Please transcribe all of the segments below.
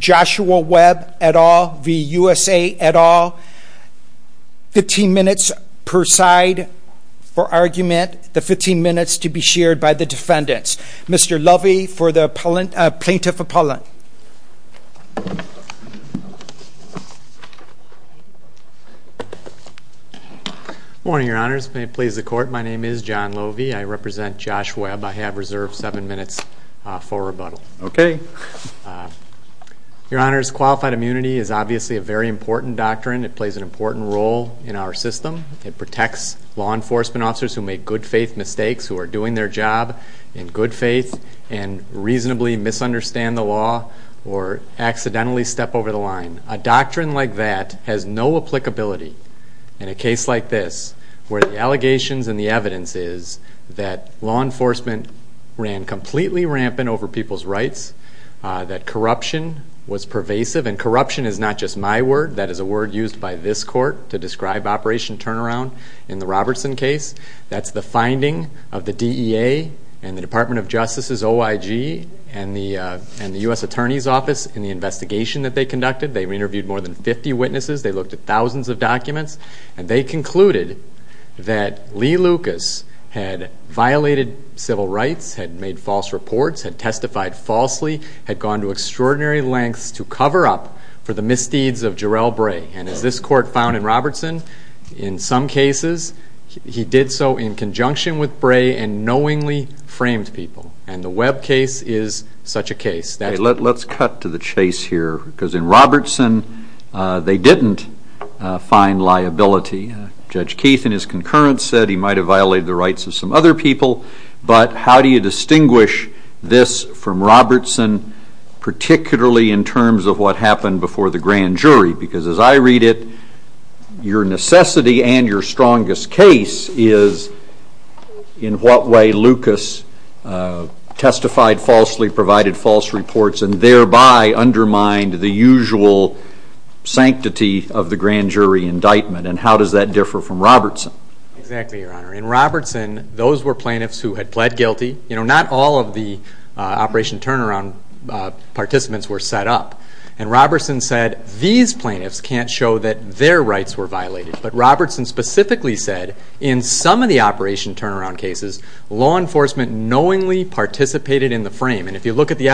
Joshua Webb et al v. USA et al. Fifteen minutes per side for argument. The 15 minutes to be shared by the defendants. Mr. Lovey for the plaintiff appellant. Morning your honors. May it please the court. My name is John Lovey. I Your honors qualified immunity is obviously a very important doctrine. It plays an important role in our system. It protects law enforcement officers who make good faith mistakes, who are doing their job in good faith and reasonably misunderstand the law or accidentally step over the line. A doctrine like that has no applicability in a case like this where the allegations and the evidence is that law enforcement ran completely rampant over people's rights, that corruption was pervasive. And corruption is not just my word. That is a word used by this court to describe Operation Turnaround in the Robertson case. That's the finding of the DEA and the Department of Justice's OIG and the and the US Attorney's Office in the investigation that they conducted. They interviewed more than 50 witnesses. They looked at thousands of documents and they concluded that Lee Lucas had violated civil rights, had made false reports, had testified falsely, had gone to extraordinary lengths to cover up for the misdeeds of Jarrell Bray. And as this court found in Robertson, in some cases he did so in conjunction with Bray and knowingly framed people. And the Webb case is such a case. Let's cut to the chase here because in Robertson they didn't find liability. Judge Keith, in his concurrence, said he might have violated the rights of some other people. But how do you distinguish this from Robertson, particularly in terms of what happened before the grand jury? Because as I read it, your necessity and your strongest case is in what way Lucas testified falsely, provided false reports, and thereby undermined the usual sanctity of the grand jury indictment. And how does that differ from Robertson? Exactly, Your Honor. In Robertson, those were plaintiffs who had pled guilty. You know, not all of the Operation Turnaround participants were set up. And Robertson said, these plaintiffs can't show that their rights were violated. But Robertson specifically said, in some of the Operation Turnaround cases, law enforcement knowingly participated in the frame. And if you look at the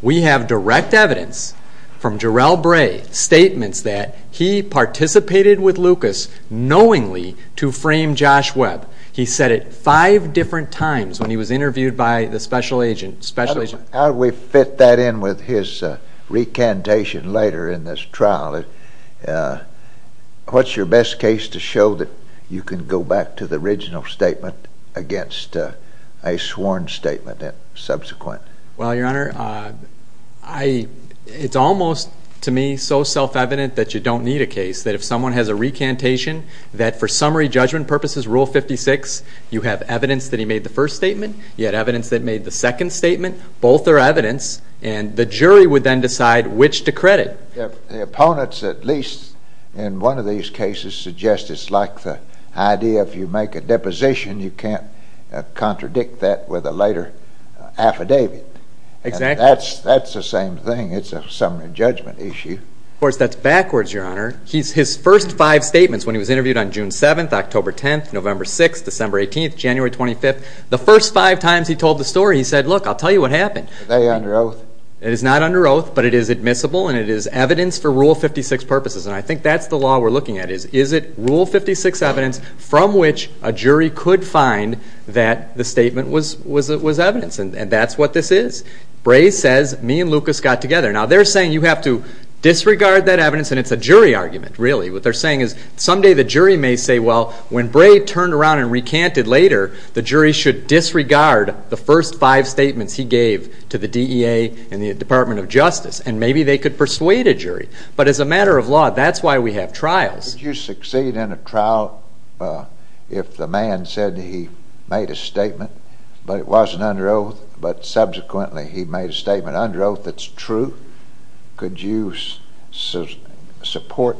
We have direct evidence from Jarrell Bray, statements that he participated with Lucas knowingly to frame Josh Webb. He said it five different times when he was interviewed by the special agent. How do we fit that in with his recantation later in this trial? What's your best case to show that you can go back to the original statement against a sworn statement and subsequent? Well, I, it's almost, to me, so self-evident that you don't need a case. That if someone has a recantation, that for summary judgment purposes, Rule 56, you have evidence that he made the first statement. You had evidence that made the second statement. Both are evidence. And the jury would then decide which to credit. The opponents, at least in one of these cases, suggest it's like the idea if you make a deposition, you can't contradict that with a later affidavit. Exactly. That's the same thing. It's a summary judgment issue. Of course, that's backwards, Your Honor. He's, his first five statements when he was interviewed on June 7th, October 10th, November 6th, December 18th, January 25th, the first five times he told the story, he said, look, I'll tell you what happened. Is it under oath? It is not under oath, but it is admissible and it is evidence for Rule 56 purposes. And I think that's the law we're looking at is, is it Rule 56 evidence from which a jury could find that the statement was evidence. And that's what this is. Bray says, me and Lucas got together. Now, they're saying you have to disregard that evidence. And it's a jury argument, really. What they're saying is someday the jury may say, well, when Bray turned around and recanted later, the jury should disregard the first five statements he gave to the DEA and the Department of Justice. And maybe they could persuade a jury. But as a matter of law, that's why we have trials. Would you succeed in a trial if the man said he made a statement, but it wasn't under oath, but subsequently he made a statement under oath that's true? Could you support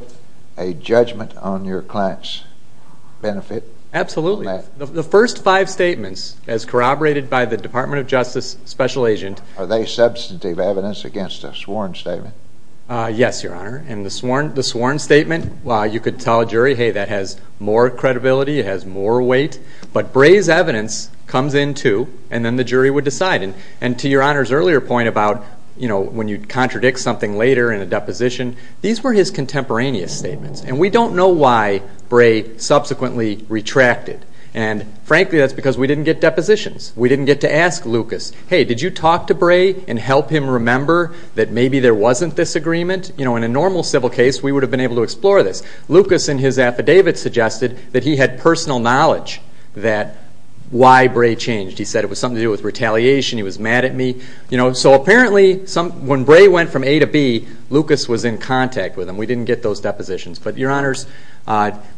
a judgment on your client's benefit? Absolutely. The first five statements, as corroborated by the Department of Justice Special Agent. Are they substantive evidence against a sworn statement? Yes, Your Honor. And the sworn statement, well, you could tell a jury, hey, that has more to do with what the jury would decide. And to Your Honor's earlier point about, you know, when you contradict something later in a deposition, these were his contemporaneous statements. And we don't know why Bray subsequently retracted. And frankly, that's because we didn't get depositions. We didn't get to ask Lucas, hey, did you talk to Bray and help him remember that maybe there wasn't this agreement? You know, in a normal civil case, we would have been able to explore this. Lucas in his affidavit suggested that he had personal knowledge that why Bray changed. He said it was something to do with retaliation. He was mad at me. You know, so apparently when Bray went from A to B, Lucas was in contact with him. We didn't get those depositions. But Your Honors,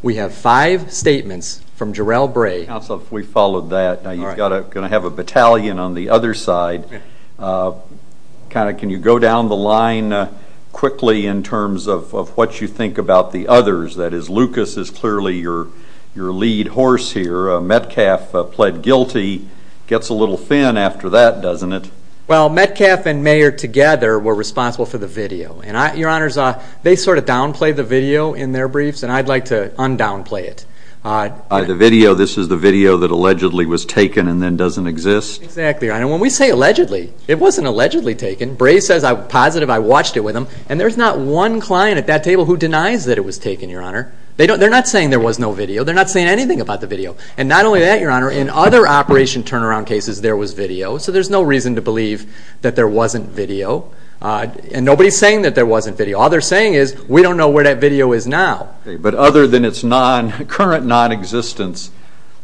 we have five statements from Jarrell Bray. Counsel, if we followed that. Now you've got to have a battalion on the other side. Kind of, can you go down the line quickly in terms of what you think about the others? That is, Lucas is clearly your lead horse here. Metcalf pled guilty. Gets a little thin after that, doesn't it? Well, Metcalf and Mayer together were responsible for the video. And Your Honors, they sort of downplayed the video in their briefs. And I'd like to undownplay it. The video, this is the video that allegedly was taken and then doesn't exist? Exactly, Your Honor. When we say allegedly, it wasn't allegedly taken. Bray says positive, I watched it with him. And there's not one client at that table who denies that it was taken, Your Honor. They're not saying there was no video. They're not saying anything about the video. And not only that, Your Honor, in other operation turnaround cases, there was video. So there's no reason to believe that there wasn't video. And nobody's saying that there wasn't video. All they're saying is, we don't know where that video is now. But other than its current non-existence,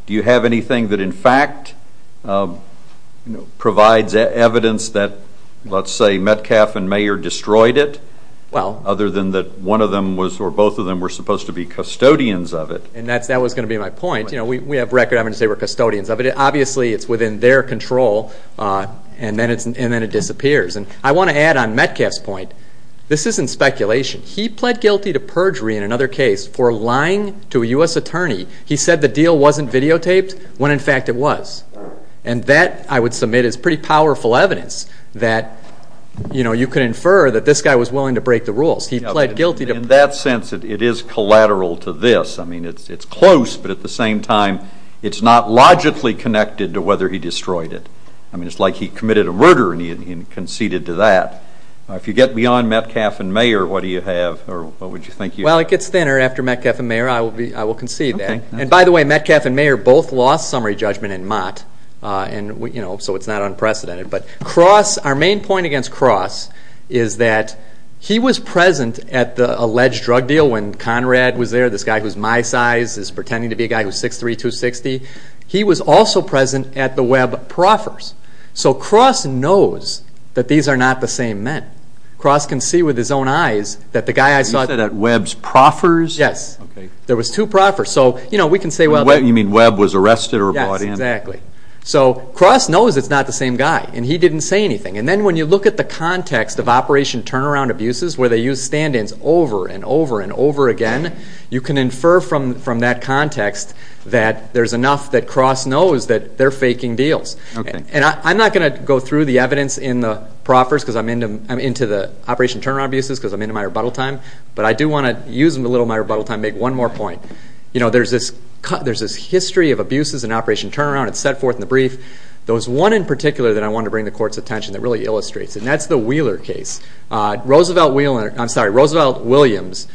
do you have anything that in fact provides evidence that, let's say, Metcalf and Mayer destroyed it? Well. Other than that one of them was, or both of them were supposed to be custodians of it. And that was gonna be my point. We have record evidence they were custodians of it. Obviously, it's within their control and then it disappears. And I wanna add on Metcalf's point, this isn't speculation. He pled guilty to perjury in another case for lying to a US attorney. He said the deal wasn't videotaped when in fact it was. And that, I would submit, is pretty powerful evidence that you could infer that this guy was willing to break the rules. He pled guilty to perjury. In that sense, it is collateral to this. I mean, it's close, but at the same time, it's not logically connected to whether he destroyed it. I mean, it's like he committed a murder and he conceded to that. If you get beyond Metcalf and Mayer, what do you have, or what would you think you have? Well, it gets thinner after Metcalf and Mayer. I will concede that. Okay. And by the way, Metcalf and Mayer both lost summary judgment in Mott, and so it's not unprecedented. But Cross, our main point against Cross, is that he was present at the alleged drug deal when Conrad was there, this guy who's my size, is pretending to be a guy who's 6'3", 260. He was also present at the Webb proffers. So Cross knows that these are not the same men. Cross can see with his own eyes that the guy I saw... You said at Webb's proffers? Yes. Okay. There was two proffers. So we can say, well... You mean Webb was arrested or brought in? Yes, exactly. So Cross knows it's not the same guy and he used stand ins over and over and over again. You can infer from that context that there's enough that Cross knows that they're faking deals. Okay. And I'm not gonna go through the evidence in the proffers, because I'm into the Operation Turnaround abuses, because I'm into my rebuttal time, but I do wanna use a little of my rebuttal time, make one more point. There's this history of abuses in Operation Turnaround, it's set forth in the brief. There was one in particular that I wanted to bring to the court's attention that really illustrates, and that's the Wheeler case. Roosevelt Williams,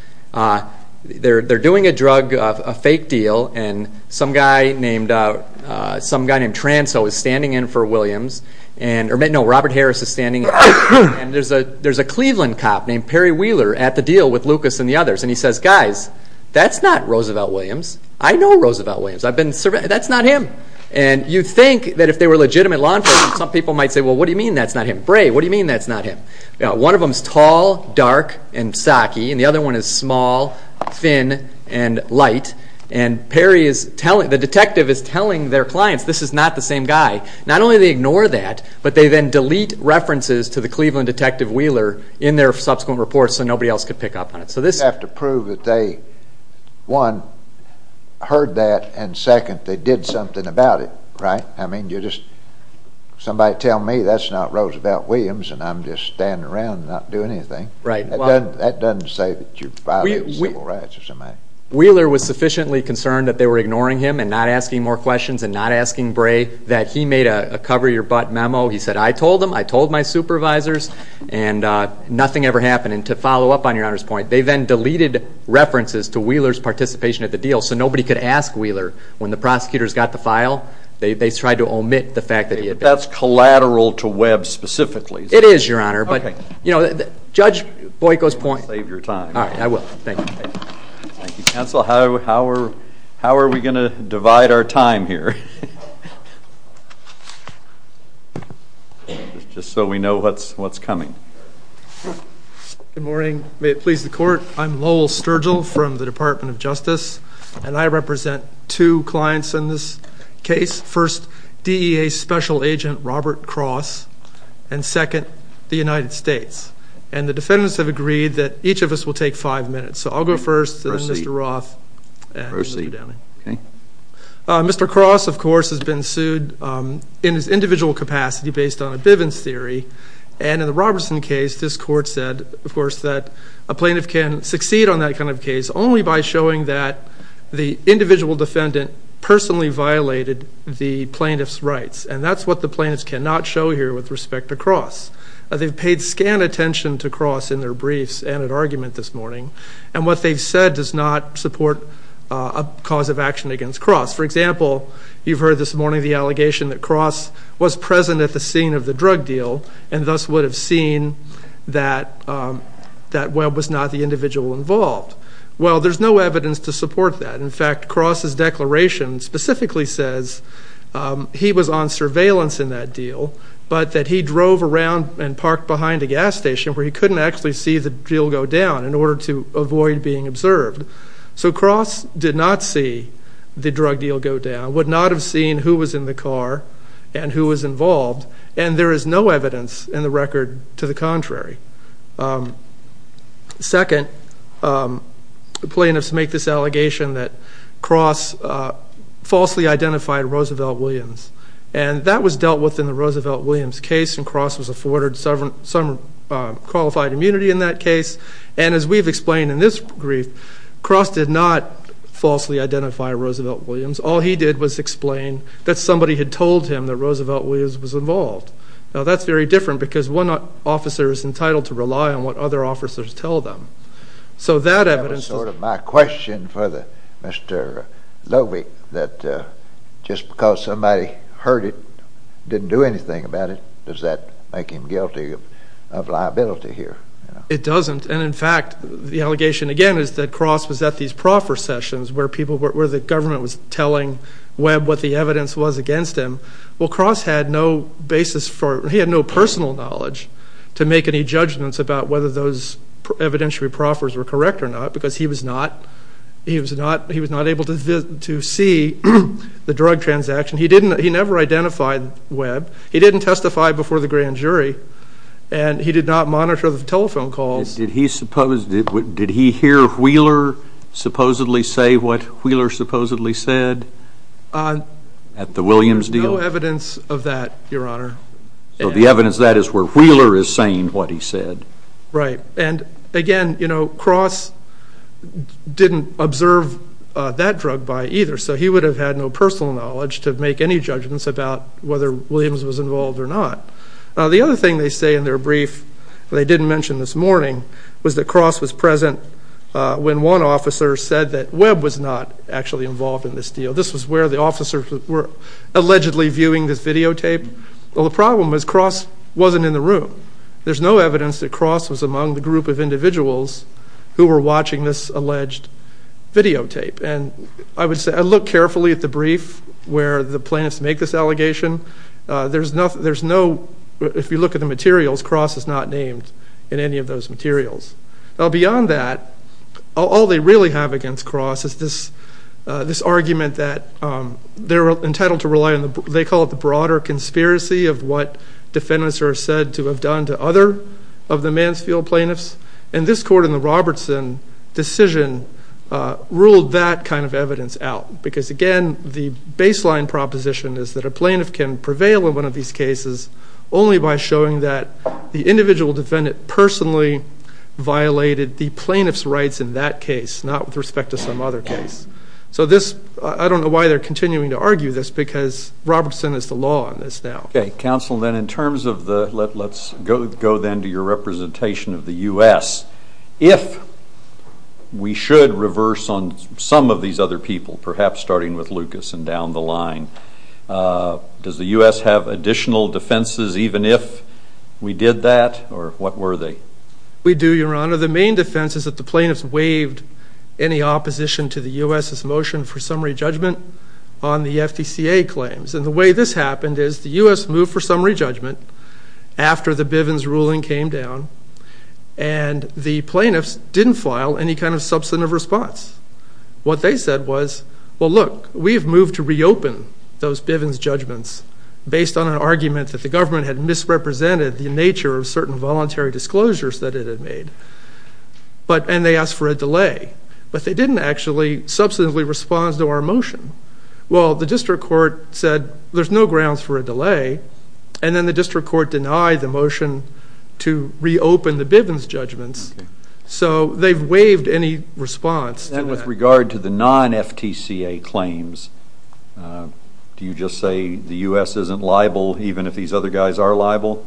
they're doing a drug, a fake deal, and some guy named Transo is standing in for Williams, or no, Robert Harris is standing in. And there's a Cleveland cop named Perry Wheeler at the deal with Lucas and the others, and he says, guys, that's not Roosevelt Williams. I know Roosevelt Williams, I've been surveying... That's not him. And you'd think that if they were legitimate law enforcement, some people might say, well, what do you mean that's not him? Bray, what do you mean that's not him? One of them's tall, dark, and socky, and the other one is small, thin, and light. And Perry is telling... The detective is telling their clients, this is not the same guy. Not only do they ignore that, but they then delete references to the Cleveland detective Wheeler in their subsequent reports so nobody else could pick up on it. So this... You have to prove that they, one, heard that, and second, they did something about it, right? I mean, you just... Somebody tell me that's not Roosevelt Williams and I'm just standing around and not doing anything. Right. That doesn't say that you're violating civil rights or something. Wheeler was sufficiently concerned that they were ignoring him and not asking more questions and not asking Bray that he made a cover your butt memo. He said, I told them, I told my supervisors, and nothing ever happened. And to follow up on your Honor's point, they then deleted references to Wheeler's participation at the deal so nobody could ask Wheeler. When the prosecutors got the to omit the fact that he... That's collateral to Webb specifically. It is, your Honor, but... Okay. You know, Judge Boyko's point... Save your time. Alright, I will. Thank you. Thank you, counsel. How are we gonna divide our time here? Just so we know what's coming. Good morning. May it please the court. I'm Lowell Sturgill from the Department of Justice, and I represent two DEA special agent, Robert Cross, and second, the United States. And the defendants have agreed that each of us will take five minutes. So I'll go first, then Mr. Roth, and then Mr. Downing. Okay. Mr. Cross, of course, has been sued in his individual capacity based on a Bivens theory. And in the Robertson case, this court said, of course, that a plaintiff can succeed on that kind of case only by showing that the individual defendant personally violated the plaintiff's rights. And that's what the plaintiffs cannot show here with respect to Cross. They've paid scant attention to Cross in their briefs and at argument this morning, and what they've said does not support a cause of action against Cross. For example, you've heard this morning the allegation that Cross was present at the scene of the drug deal, and thus would have seen that Webb was not the individual involved. Well, there's no evidence to support that. In fact, Cross's declaration specifically says he was on surveillance in that deal, but that he drove around and parked behind a gas station where he couldn't actually see the deal go down in order to avoid being observed. So Cross did not see the drug deal go down, would not have seen who was in the car and who was involved, and there is no evidence in the record to the contrary. Second, the plaintiffs make this allegation that Cross falsely identified Roosevelt Williams, and that was dealt with in the Roosevelt Williams case, and Cross was afforded some qualified immunity in that case. And as we've explained in this brief, Cross did not falsely identify Roosevelt Williams. All he did was explain that somebody had told him that Roosevelt Williams was involved. Now, that's very different because one officer is entitled to rely on what other officers tell them. So that evidence... That was sort of my question for Mr. Lovick, that just because somebody heard it, didn't do anything about it, does that make him guilty of liability here? It doesn't, and in fact, the allegation again is that Cross was at these proffer sessions where the government was telling Webb what the evidence was against him. Well, Cross had no basis for... He had no personal knowledge to make any judgments about whether those evidentiary proffers were correct or not, because he was not able to see the drug transaction. He never identified Webb. He didn't testify before the grand jury, and he did not monitor the telephone calls. Did he hear Wheeler supposedly say what Wheeler supposedly said at the Williams deal? No evidence of that, Your Honor. So the evidence of that is where Wheeler is saying what he said. Right. And again, Cross didn't observe that drug buy either, so he would have had no personal knowledge to make any judgments about whether Williams was involved or not. Now, the other thing they say in their brief, they didn't mention this morning, was that Cross was present when one officer said that Webb was not actually involved in this deal. This was where the officers were allegedly viewing this videotape. Well, the problem was Cross wasn't in the room. There's no evidence that Cross was among the group of individuals who were watching this alleged videotape. And I would say, I looked carefully at the brief where the plaintiffs make this allegation. There's no... If you look at the materials, Cross is not named in any of those materials. Now, beyond that, all they really have against Cross is this argument that they're entitled to rely on... They call it the broader conspiracy of what defendants are said to have done to other of the Mansfield plaintiffs. And this court in the Robertson decision ruled that kind of evidence out. Because again, the baseline proposition is that a plaintiff can prevail in one of these cases only by showing that the individual defendant personally violated the plaintiff's rights in that case, not with respect to some other case. So this... I don't know why they're continuing to argue this, because Robertson is the law on this now. Okay, counsel, then in terms of the... Let's go then to your representation of the US. If we should reverse on some of these other people, perhaps starting with the plaintiffs, do you have any additional defenses even if we did that or what were they? We do, Your Honor. The main defense is that the plaintiffs waived any opposition to the US's motion for summary judgment on the FDCA claims. And the way this happened is the US moved for summary judgment after the Bivens ruling came down, and the plaintiffs didn't file any kind of substantive response. What they said was, well, look, we've moved to reopen those Bivens judgments based on an argument that the government had misrepresented the nature of certain voluntary disclosures that it had made, and they asked for a delay, but they didn't actually substantively respond to our motion. Well, the district court said, there's no grounds for a delay, and then the district court denied the motion to reopen the Bivens judgments, so they've waived any response to that. And with regard to the claim that the US isn't liable, even if these other guys are liable?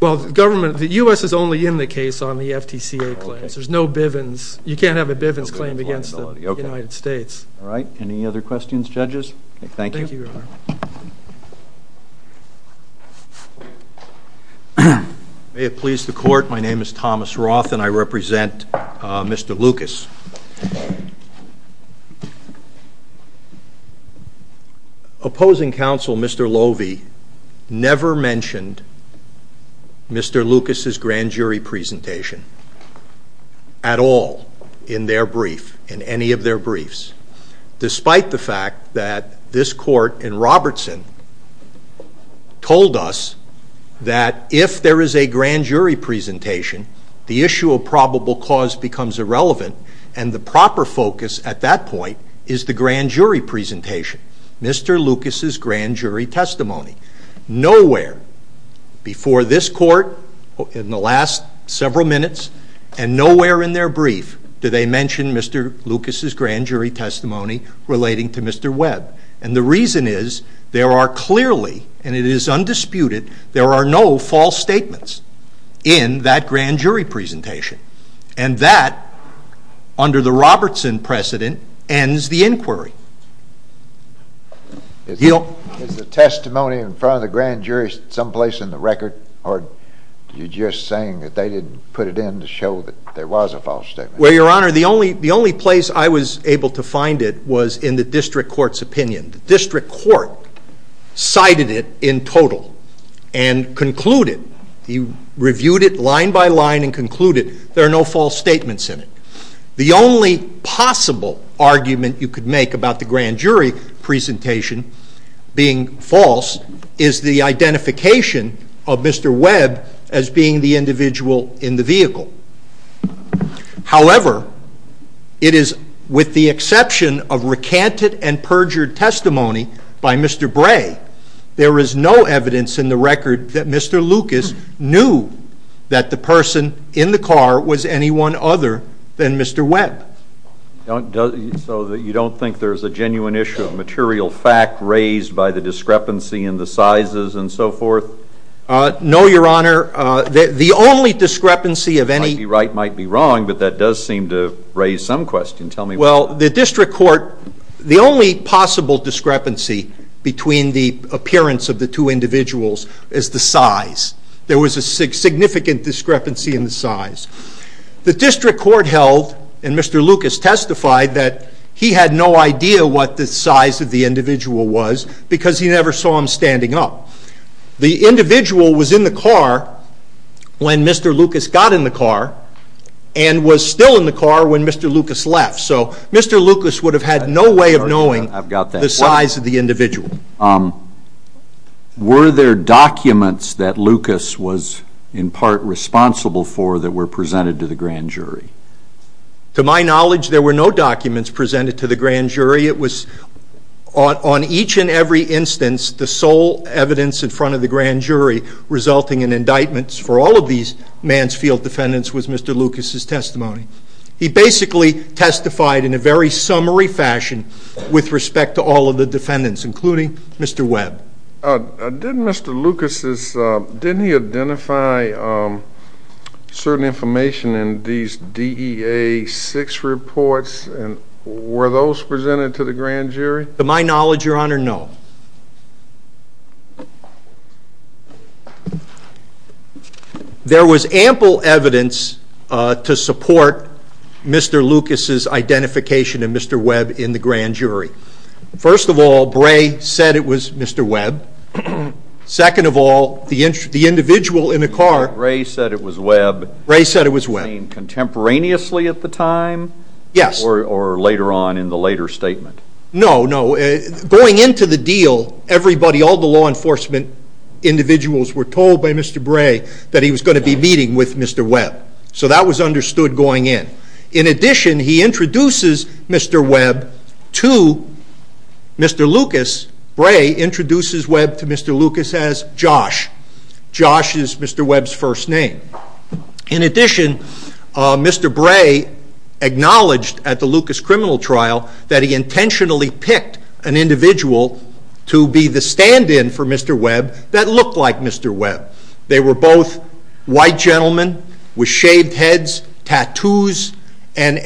Well, the government... The US is only in the case on the FDCA claims. There's no Bivens. You can't have a Bivens claim against the United States. Alright. Any other questions, judges? Thank you. Thank you, Your Honor. May it please the court, my name is Thomas Roth and I represent Mr. Lucas. Opposing counsel, Mr. Lovie, never mentioned Mr. Lucas's grand jury presentation at all in their brief, in any of their briefs, despite the fact that this court in Robertson told us that if there is a grand jury presentation, the issue of probable cause becomes irrelevant, and the proper focus at that point is the grand jury presentation, Mr. Lucas's grand jury testimony. Nowhere before this court, in the last several minutes, and nowhere in their brief do they mention Mr. Lucas's grand jury testimony relating to Mr. Webb. And the reason is, there are clearly, and it is undisputed, there are no false statements in that grand jury presentation. And that, under the Robertson precedent, ends the inquiry. Is the testimony in front of the grand jury someplace in the record, or are you just saying that they didn't put it in to show that there was a false statement? Well, Your Honor, the only place I was able to find it was in the district court's opinion. The district court cited it in total, and concluded, reviewed it line by line and concluded, there are no false statements in it. The only possible argument you could make about the grand jury presentation being false is the identification of Mr. Webb as being the individual in the vehicle. However, it is with the exception of recanted and perjured testimony by Mr. Bray, there is no evidence in the record that Mr. Lucas knew that the person in the car was anyone other than Mr. Webb. So you don't think there's a genuine issue of material fact raised by the discrepancy in the sizes and so forth? No, Your Honor. The only discrepancy of any... Might be right, might be wrong, but that does seem to raise some question. Tell me... Well, the district court... The only possible discrepancy between the appearance of the two individuals is the size. There was a significant discrepancy in the size. The district court held, and Mr. Lucas testified, that he had no idea what the size of the individual was because he never saw him standing up. The individual was in the car when Mr. Lucas got in the car, and was still in the car. Mr. Lucas would have had no way of knowing the size of the individual. Were there documents that Lucas was, in part, responsible for that were presented to the grand jury? To my knowledge, there were no documents presented to the grand jury. It was on each and every instance, the sole evidence in front of the grand jury resulting in indictments for all of these man's field defendants was Mr. Lucas's testimony. He basically testified in a very summary fashion with respect to all of the defendants, including Mr. Webb. Didn't Mr. Lucas's... Didn't he identify certain information in these DEA 6 reports, and were those presented to the grand jury? To my knowledge, Your Honor, no. There was ample evidence to support Mr. Lucas's identification of Mr. Webb in the grand jury. First of all, Bray said it was Mr. Webb. Second of all, the individual in the car... Bray said it was Webb. Bray said it was Webb. You mean contemporaneously at the time? Yes. Or later on in the later statement? No, no. Going into the deal, everybody, all the law enforcement individuals were told by Mr. Bray that he was gonna be meeting with Mr. Webb. So that was understood going in. In addition, he introduces Mr. Webb to Mr. Lucas. Bray introduces Webb to Mr. Lucas as Josh. Josh is Mr. Webb's first name. In addition, Mr. Bray acknowledged at the Lucas criminal trial that he intentionally picked an individual to be the stand in for Mr. Webb that looked like Mr. Webb. They were both white gentlemen with shaved heads, tattoos, and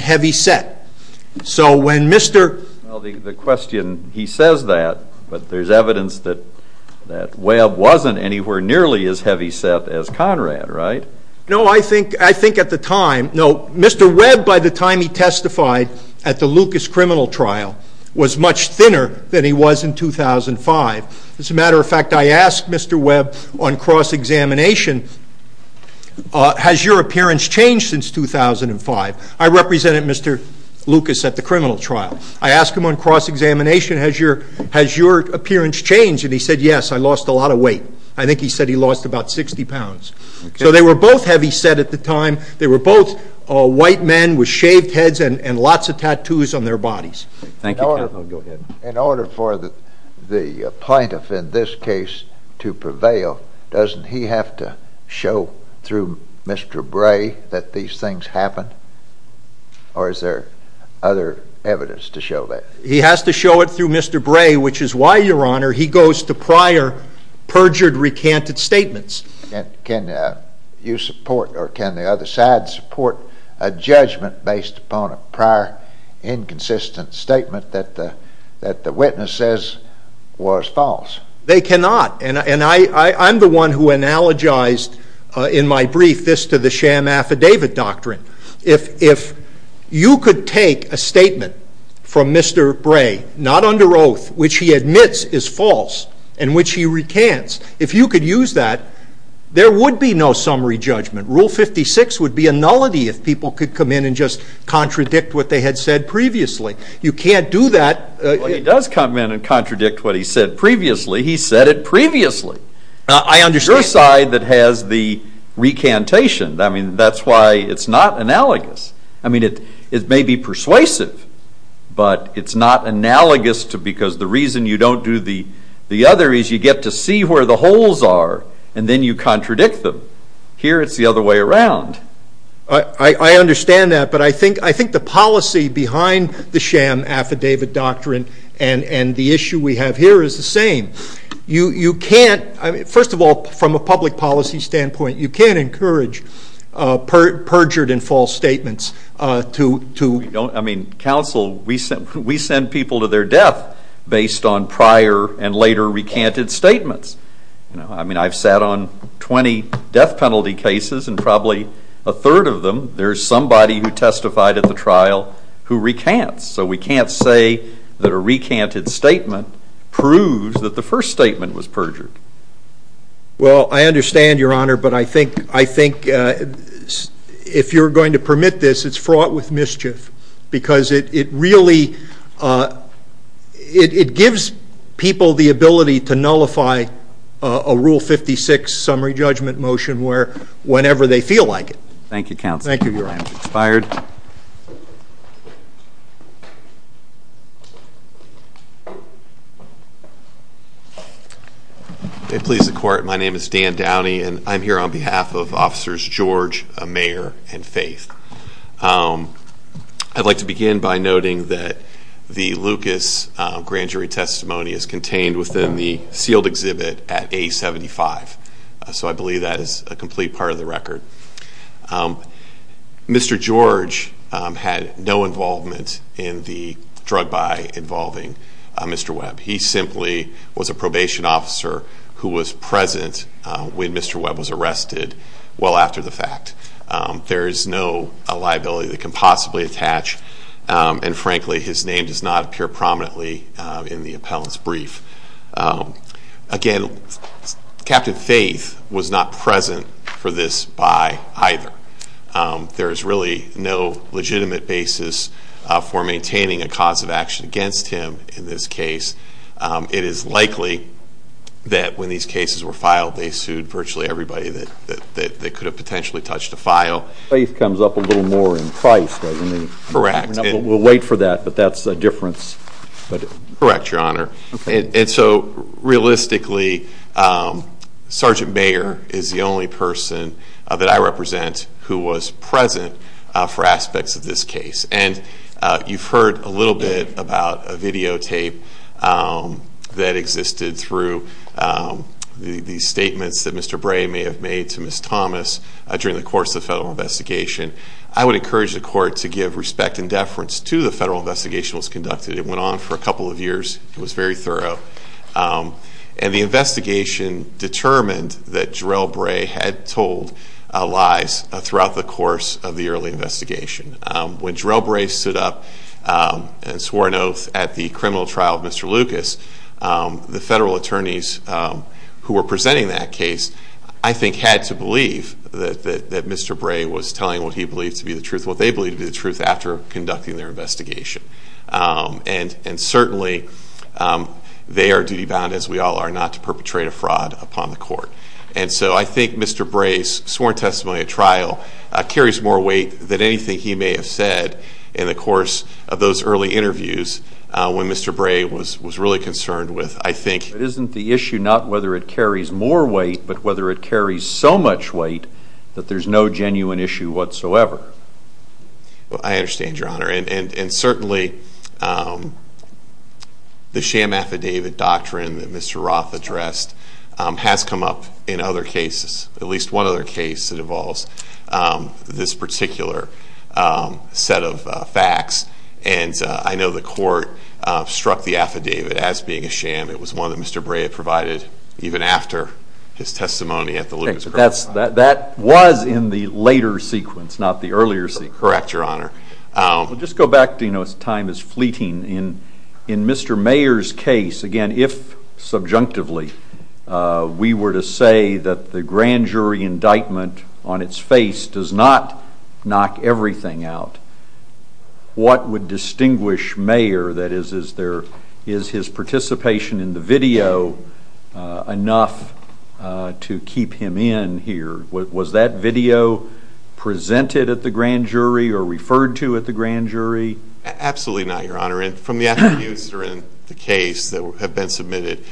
heavy set. So when Mr... Well, the question, he says that, but there's evidence that Webb wasn't anywhere nearly as heavy set as Conrad, right? No, I think at the time... No, Mr. Webb, by the time he testified at the Lucas criminal trial, was much thinner than he was in 2005. As a matter of fact, I asked Mr. Webb on cross examination, has your appearance changed since 2005? I represented Mr. Lucas at the criminal trial. I asked him on cross examination, has your appearance changed? And he said, yes, I lost a lot of weight. I think he said he lost about 60 pounds. So they were both heavy set at the time. They were both white men with shaved heads and lots of tattoos on their bodies. Thank you, counsel. Go ahead. In order for the plaintiff in this case to prevail, doesn't he have to show through Mr. Bray that these things happened? Or is there other evidence to show that? He has to show it through Mr. Bray, which is why, Your Honor, he goes to prior perjured recanted statements. Can you support, or can the other side support, a judgment based upon a prior inconsistent statement that the witness says was false? They cannot. And I'm the one who analogized in my brief this to the sham affidavit doctrine. If you could take a statement from Mr. Bray, not under oath, which he admits is false, and which he recants, if you could use that, there would be no summary judgment. Rule 56 would be a nullity if people could come in and just contradict what they had said previously. You can't do that. But he does come in and contradict what he said previously. He said it previously. I understand. Your side that has the recantation, I mean, that's why it's not analogous. I mean, it may be persuasive, but it's not analogous because the reason you don't do the other is you get to see where the holes are, and then you contradict them. Here, it's the other way around. I understand that, but I think the policy behind the sham affidavit doctrine and the issue we have here is the same. You can't... First of all, from a public policy standpoint, you can't encourage perjured and false statements to... I mean, counsel, we send people to their death based on prior and later recanted statements. I've sat on 20 death penalty cases and probably a third of them, there's somebody who testified at the trial who recants. So we can't say that a recanted statement proves that the first statement was perjured. Well, I understand, Your Honor, but I think if you're going to permit this, it's fraught with mischief because it really... It gives people the ability to nullify a Rule 56 summary judgment motion where whenever they feel like it. Thank you, counsel. Thank you, Your Honor. It's fired. It pleases the court. My name is Dan Downey and I'm here on behalf of Officers George, Mayer, and Faith. I'd like to begin by noting that the Lucas grand jury testimony is contained within the sealed exhibit at A75. So I believe that is a complete part of the record. Mr. George had no involvement in the drug buy involving Mr. Webb. He simply was a probation officer who was present when Mr. Webb was arrested well after the fact. There is no liability that can possibly attach. And frankly, his name does not appear prominently in the appellant's brief. Again, Captain Faith was not present for this buy either. There is really no legitimate basis for maintaining a cause of action against him in this case. It is likely that when these cases were filed, they sued virtually everybody that could have potentially touched a file. Faith comes up a little more in price, doesn't he? Correct. We'll wait for that, but that's a difference. Correct, Your Honor. And so realistically, Sergeant Mayer is the only person that I represent who was present for the videotape that existed through the statements that Mr. Bray may have made to Ms. Thomas during the course of the federal investigation. I would encourage the court to give respect and deference to the federal investigation that was conducted. It went on for a couple of years. It was very thorough. And the investigation determined that Jarell Bray had told lies throughout the course of the early investigation. When Jarell Bray stood up and swore an oath at the criminal trial of Mr. Lucas, the federal attorneys who were presenting that case, I think, had to believe that Mr. Bray was telling what he believed to be the truth, what they believed to be the truth after conducting their investigation. And certainly, they are duty bound, as we all are, not to perpetrate a fraud upon the court. And so I think Mr. Bray's sworn testimony at trial carries more weight than anything he may have said in the course of those early interviews when Mr. Bray was really concerned with, I think... But isn't the issue not whether it carries more weight, but whether it carries so much weight that there's no genuine issue whatsoever? I understand, Your Honor. And certainly, the sham affidavit doctrine that Mr. Roth addressed has come up in other cases that involves this particular set of facts. And I know the court struck the affidavit as being a sham. It was one that Mr. Bray had provided even after his testimony at the Lucas criminal trial. That was in the later sequence, not the earlier sequence. Correct, Your Honor. We'll just go back to... Time is fleeting. In Mr. Mayer's case, again, if subjunctively, we were to say that the grand jury indictment on its face does not knock everything out, what would distinguish Mayer? That is, is there... Is his participation in the video enough to keep him in here? Was that video presented at the grand jury or referred to at the grand jury? Absolutely not, Your Honor. And from the interviews that are in the case that have been submitted,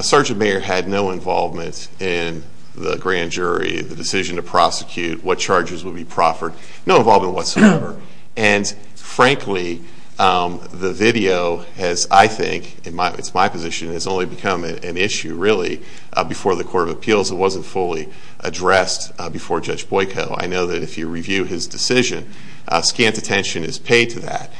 Sergeant Mayer had no involvement in the grand jury, the decision to prosecute, what charges would be proffered, no involvement whatsoever. And frankly, the video has, I think, it's my position, has only become an issue really before the Court of Appeals. It wasn't fully addressed before Judge Boyko. I know that if you review his decision, scant attention is paid to that.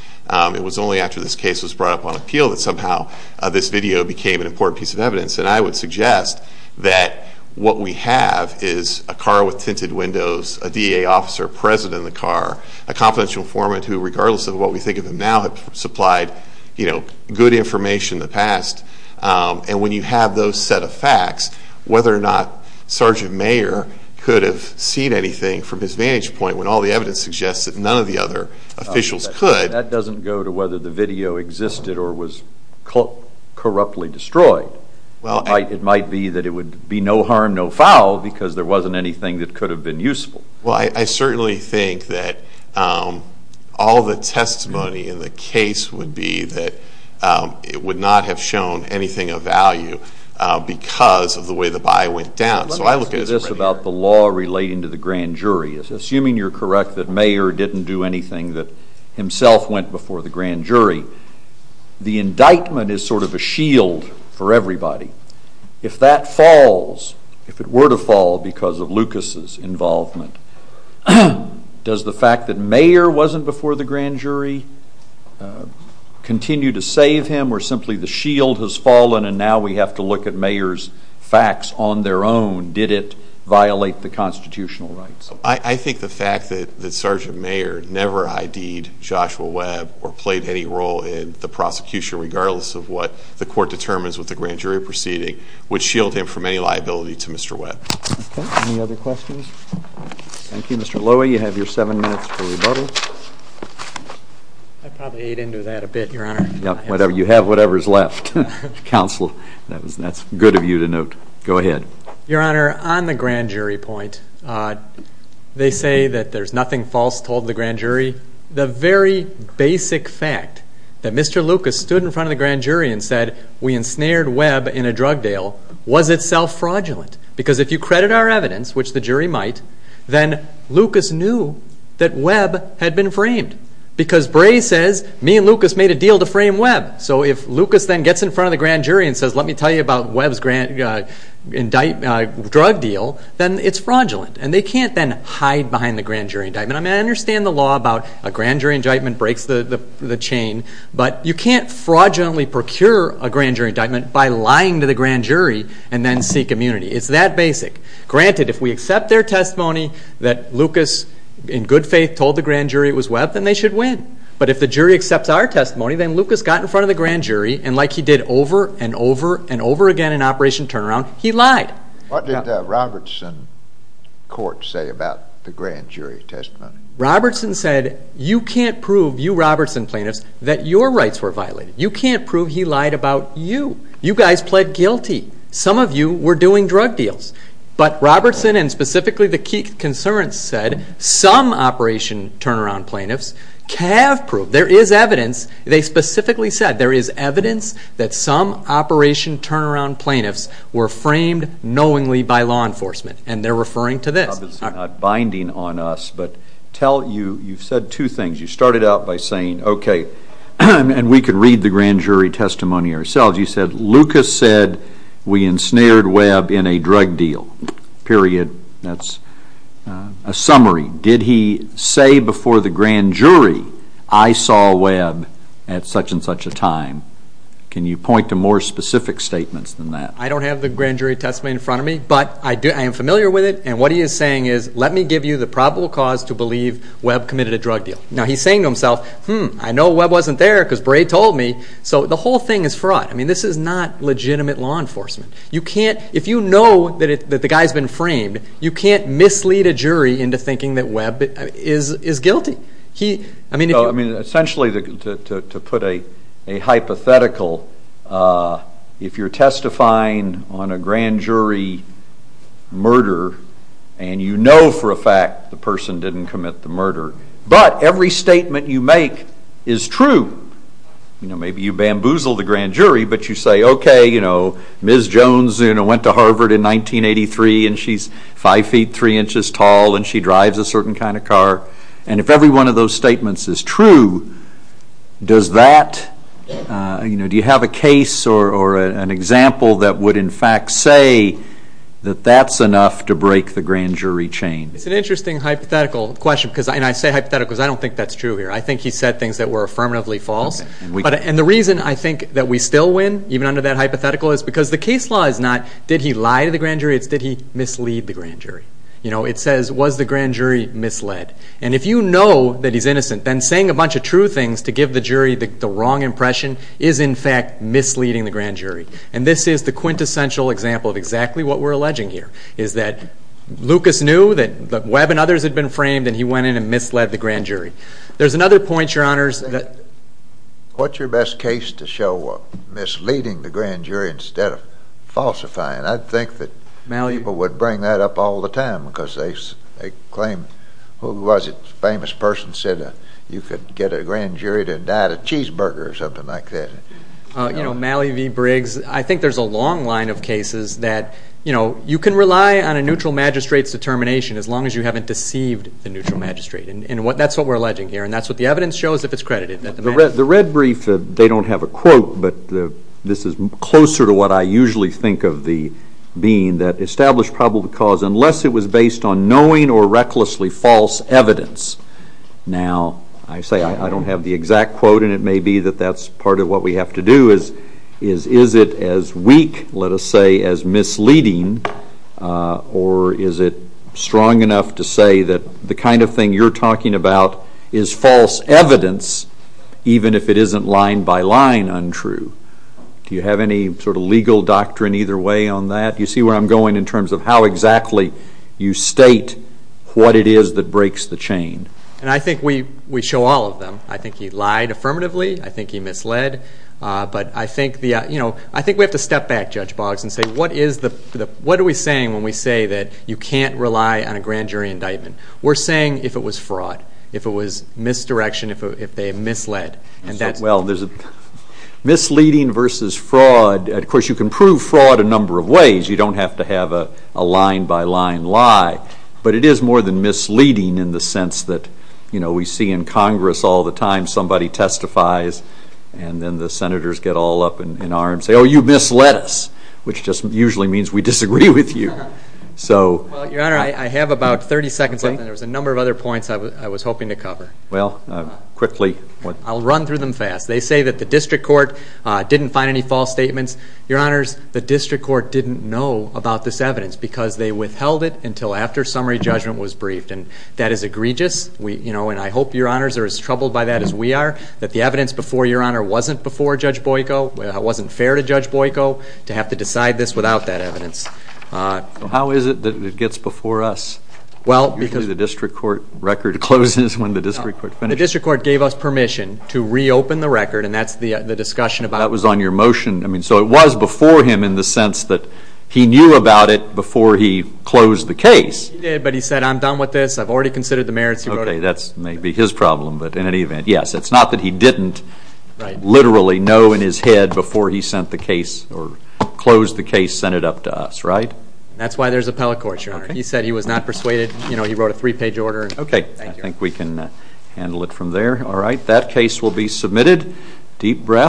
It was only after this case was brought up on appeal that somehow this video became an important piece of evidence. And I would suggest that what we have is a car with tinted windows, a DA officer present in the car, a confidential informant who, regardless of what we think of him now, had supplied good information in the past. And when you have those set of facts, whether or not Sergeant Mayer could have seen anything from his vantage point when all the evidence suggests that none of the other officials could... That doesn't go to whether the video existed or was corruptly destroyed. It might be that it would be no harm, no foul, because there wasn't anything that could have been useful. Well, I certainly think that all the testimony in the case would be that it would not have shown anything of value because of the way the buy went down. So I look at... Let me ask you this about the law relating to the grand jury. Assuming you're correct that Mayer didn't do anything that himself went before the grand jury, the indictment is sort of a shield for everybody. If that falls, if it were to fall because of Lucas's involvement, does the fact that Mayer wasn't before the grand jury continue to save him or simply the shield has fallen and now we have to look at Mayer's facts on their own? Did it violate the constitutional rights? I think the fact that Sergeant Mayer never ID'd Joshua in the prosecution, regardless of what the court determines with the grand jury proceeding, would shield him from any liability to Mr. Webb. Okay, any other questions? Thank you. Mr. Lowy, you have your seven minutes for rebuttal. I probably ate into that a bit, Your Honor. You have whatever's left. Counsel, that's good of you to note. Go ahead. Your Honor, on the grand jury point, they say that there's nothing false told the grand jury. The very basic fact that Mr. Lucas stood in front of the grand jury and said we ensnared Webb in a drug deal was itself fraudulent. Because if you credit our evidence, which the jury might, then Lucas knew that Webb had been framed. Because Bray says, me and Lucas made a deal to frame Webb. So if Lucas then gets in front of the grand jury and says, let me tell you about Webb's drug deal, then it's fraudulent. And they can't then hide behind the grand jury indictment. I mean, I understand the law about a grand jury indictment breaks the chain, but you can't fraudulently procure a grand jury indictment by lying to the grand jury and then seek immunity. It's that basic. Granted, if we accept their testimony that Lucas, in good faith, told the grand jury it was Webb, then they should win. But if the jury accepts our testimony, then Lucas got in front of the grand jury, and like he did over and over and over again in Operation Turnaround, he lied. What did he say? He said, you can't prove, you Robertson plaintiffs, that your rights were violated. You can't prove he lied about you. You guys pled guilty. Some of you were doing drug deals. But Robertson, and specifically the Keek Conservants said, some Operation Turnaround plaintiffs have proved, there is evidence, they specifically said, there is evidence that some Operation Turnaround plaintiffs were framed knowingly by law enforcement. And they're two things. You started out by saying, okay, and we could read the grand jury testimony ourselves. You said, Lucas said we ensnared Webb in a drug deal, period. That's a summary. Did he say before the grand jury, I saw Webb at such and such a time? Can you point to more specific statements than that? I don't have the grand jury testimony in front of me, but I am familiar with it. And what he is saying is, let me give you the probable cause to believe Webb committed a drug deal. Now, he's saying to himself, hmm, I know Webb wasn't there because Bray told me. So the whole thing is fraught. This is not legitimate law enforcement. You can't, if you know that the guy's been framed, you can't mislead a jury into thinking that Webb is guilty. Essentially, to put a hypothetical, if you're testifying on a grand jury murder, and you know for a fact the person didn't commit the murder, but every statement you make is true, maybe you bamboozle the grand jury, but you say, okay, Ms. Jones went to Harvard in 1983, and she's five feet, three inches tall, and she drives a certain kind of car. And if every one of those statements is true, does that... Do you have a case or an example that would in fact say that that's enough to break the grand jury chain? It's an I don't think that's true here. I think he said things that were affirmatively false. And the reason I think that we still win, even under that hypothetical, is because the case law is not, did he lie to the grand jury? It's, did he mislead the grand jury? It says, was the grand jury misled? And if you know that he's innocent, then saying a bunch of true things to give the jury the wrong impression is in fact misleading the grand jury. And this is the quintessential example of exactly what we're alleging here, is that Lucas knew that Webb and others had been framed, and he went in and misled the grand jury. There's another point, Your Honors, that... What's your best case to show misleading the grand jury instead of falsifying? I'd think that people would bring that up all the time, because they claim, who was it? A famous person said that you could get a grand jury to die at a cheeseburger or something like that. Mally V. Briggs. I think there's a long line of cases that you can rely on a neutral magistrate's determination as long as you haven't deceived the neutral magistrate. And that's what we're alleging here, and that's what the evidence shows, if it's credited. The red brief, they don't have a quote, but this is closer to what I usually think of the being that established probable cause, unless it was based on knowing or recklessly false evidence. Now, I say I don't have the exact quote, and it may be that that's part of what we have to do is, is it as weak, let us say, as misleading, or is it strong enough to say that the kind of thing you're talking about is false evidence, even if it isn't line by line untrue? Do you have any legal doctrine either way on that? Do you see where I'm going in terms of how exactly you state what it is that breaks the chain? And I think we show all of them. I think he lied affirmatively, I think he misled, but I think we have to step back, Judge Boggs, and say, what are we saying when we say that you can't rely on a grand jury indictment? We're saying if it was fraud, if it was misdirection, if they misled, and that's... Well, there's a misleading versus fraud. Of course, you can prove fraud a number of ways, you don't have to have a line by line lie, but it is more than misleading in the sense that we see in Congress all the time, somebody testifies, and then the senators get all up in arms and say, oh, you misled us, which just usually means we disagree with you. So... Well, Your Honor, I have about 30 seconds left, and there's a number of other points I was hoping to cover. Well, quickly. I'll run through them fast. They say that the district court didn't find any false statements. Your Honors, the district court didn't know about this evidence because they withheld it until after summary judgment was briefed, and that is egregious. And I hope, Your Honors, they're as troubled by that as we are, that the evidence before, Your Honor, wasn't before Judge Boyko, it wasn't fair to Judge Boyko to have to decide this without that evidence. How is it that it gets before us? Well, because... Usually the district court record closes when the district court finishes. The district court gave us permission to reopen the record, and that's the discussion about... That was on your motion. So it was before him in the sense that he knew about it before he closed the case. He did, but he said, I'm done with this, I've already had... Yes, it's not that he didn't literally know in his head before he sent the case or closed the case, sent it up to us, right? That's why there's appellate court, Your Honor. He said he was not persuaded, he wrote a three page order. Okay, I think we can handle it from there. Alright, that case will be submitted. Deep breath.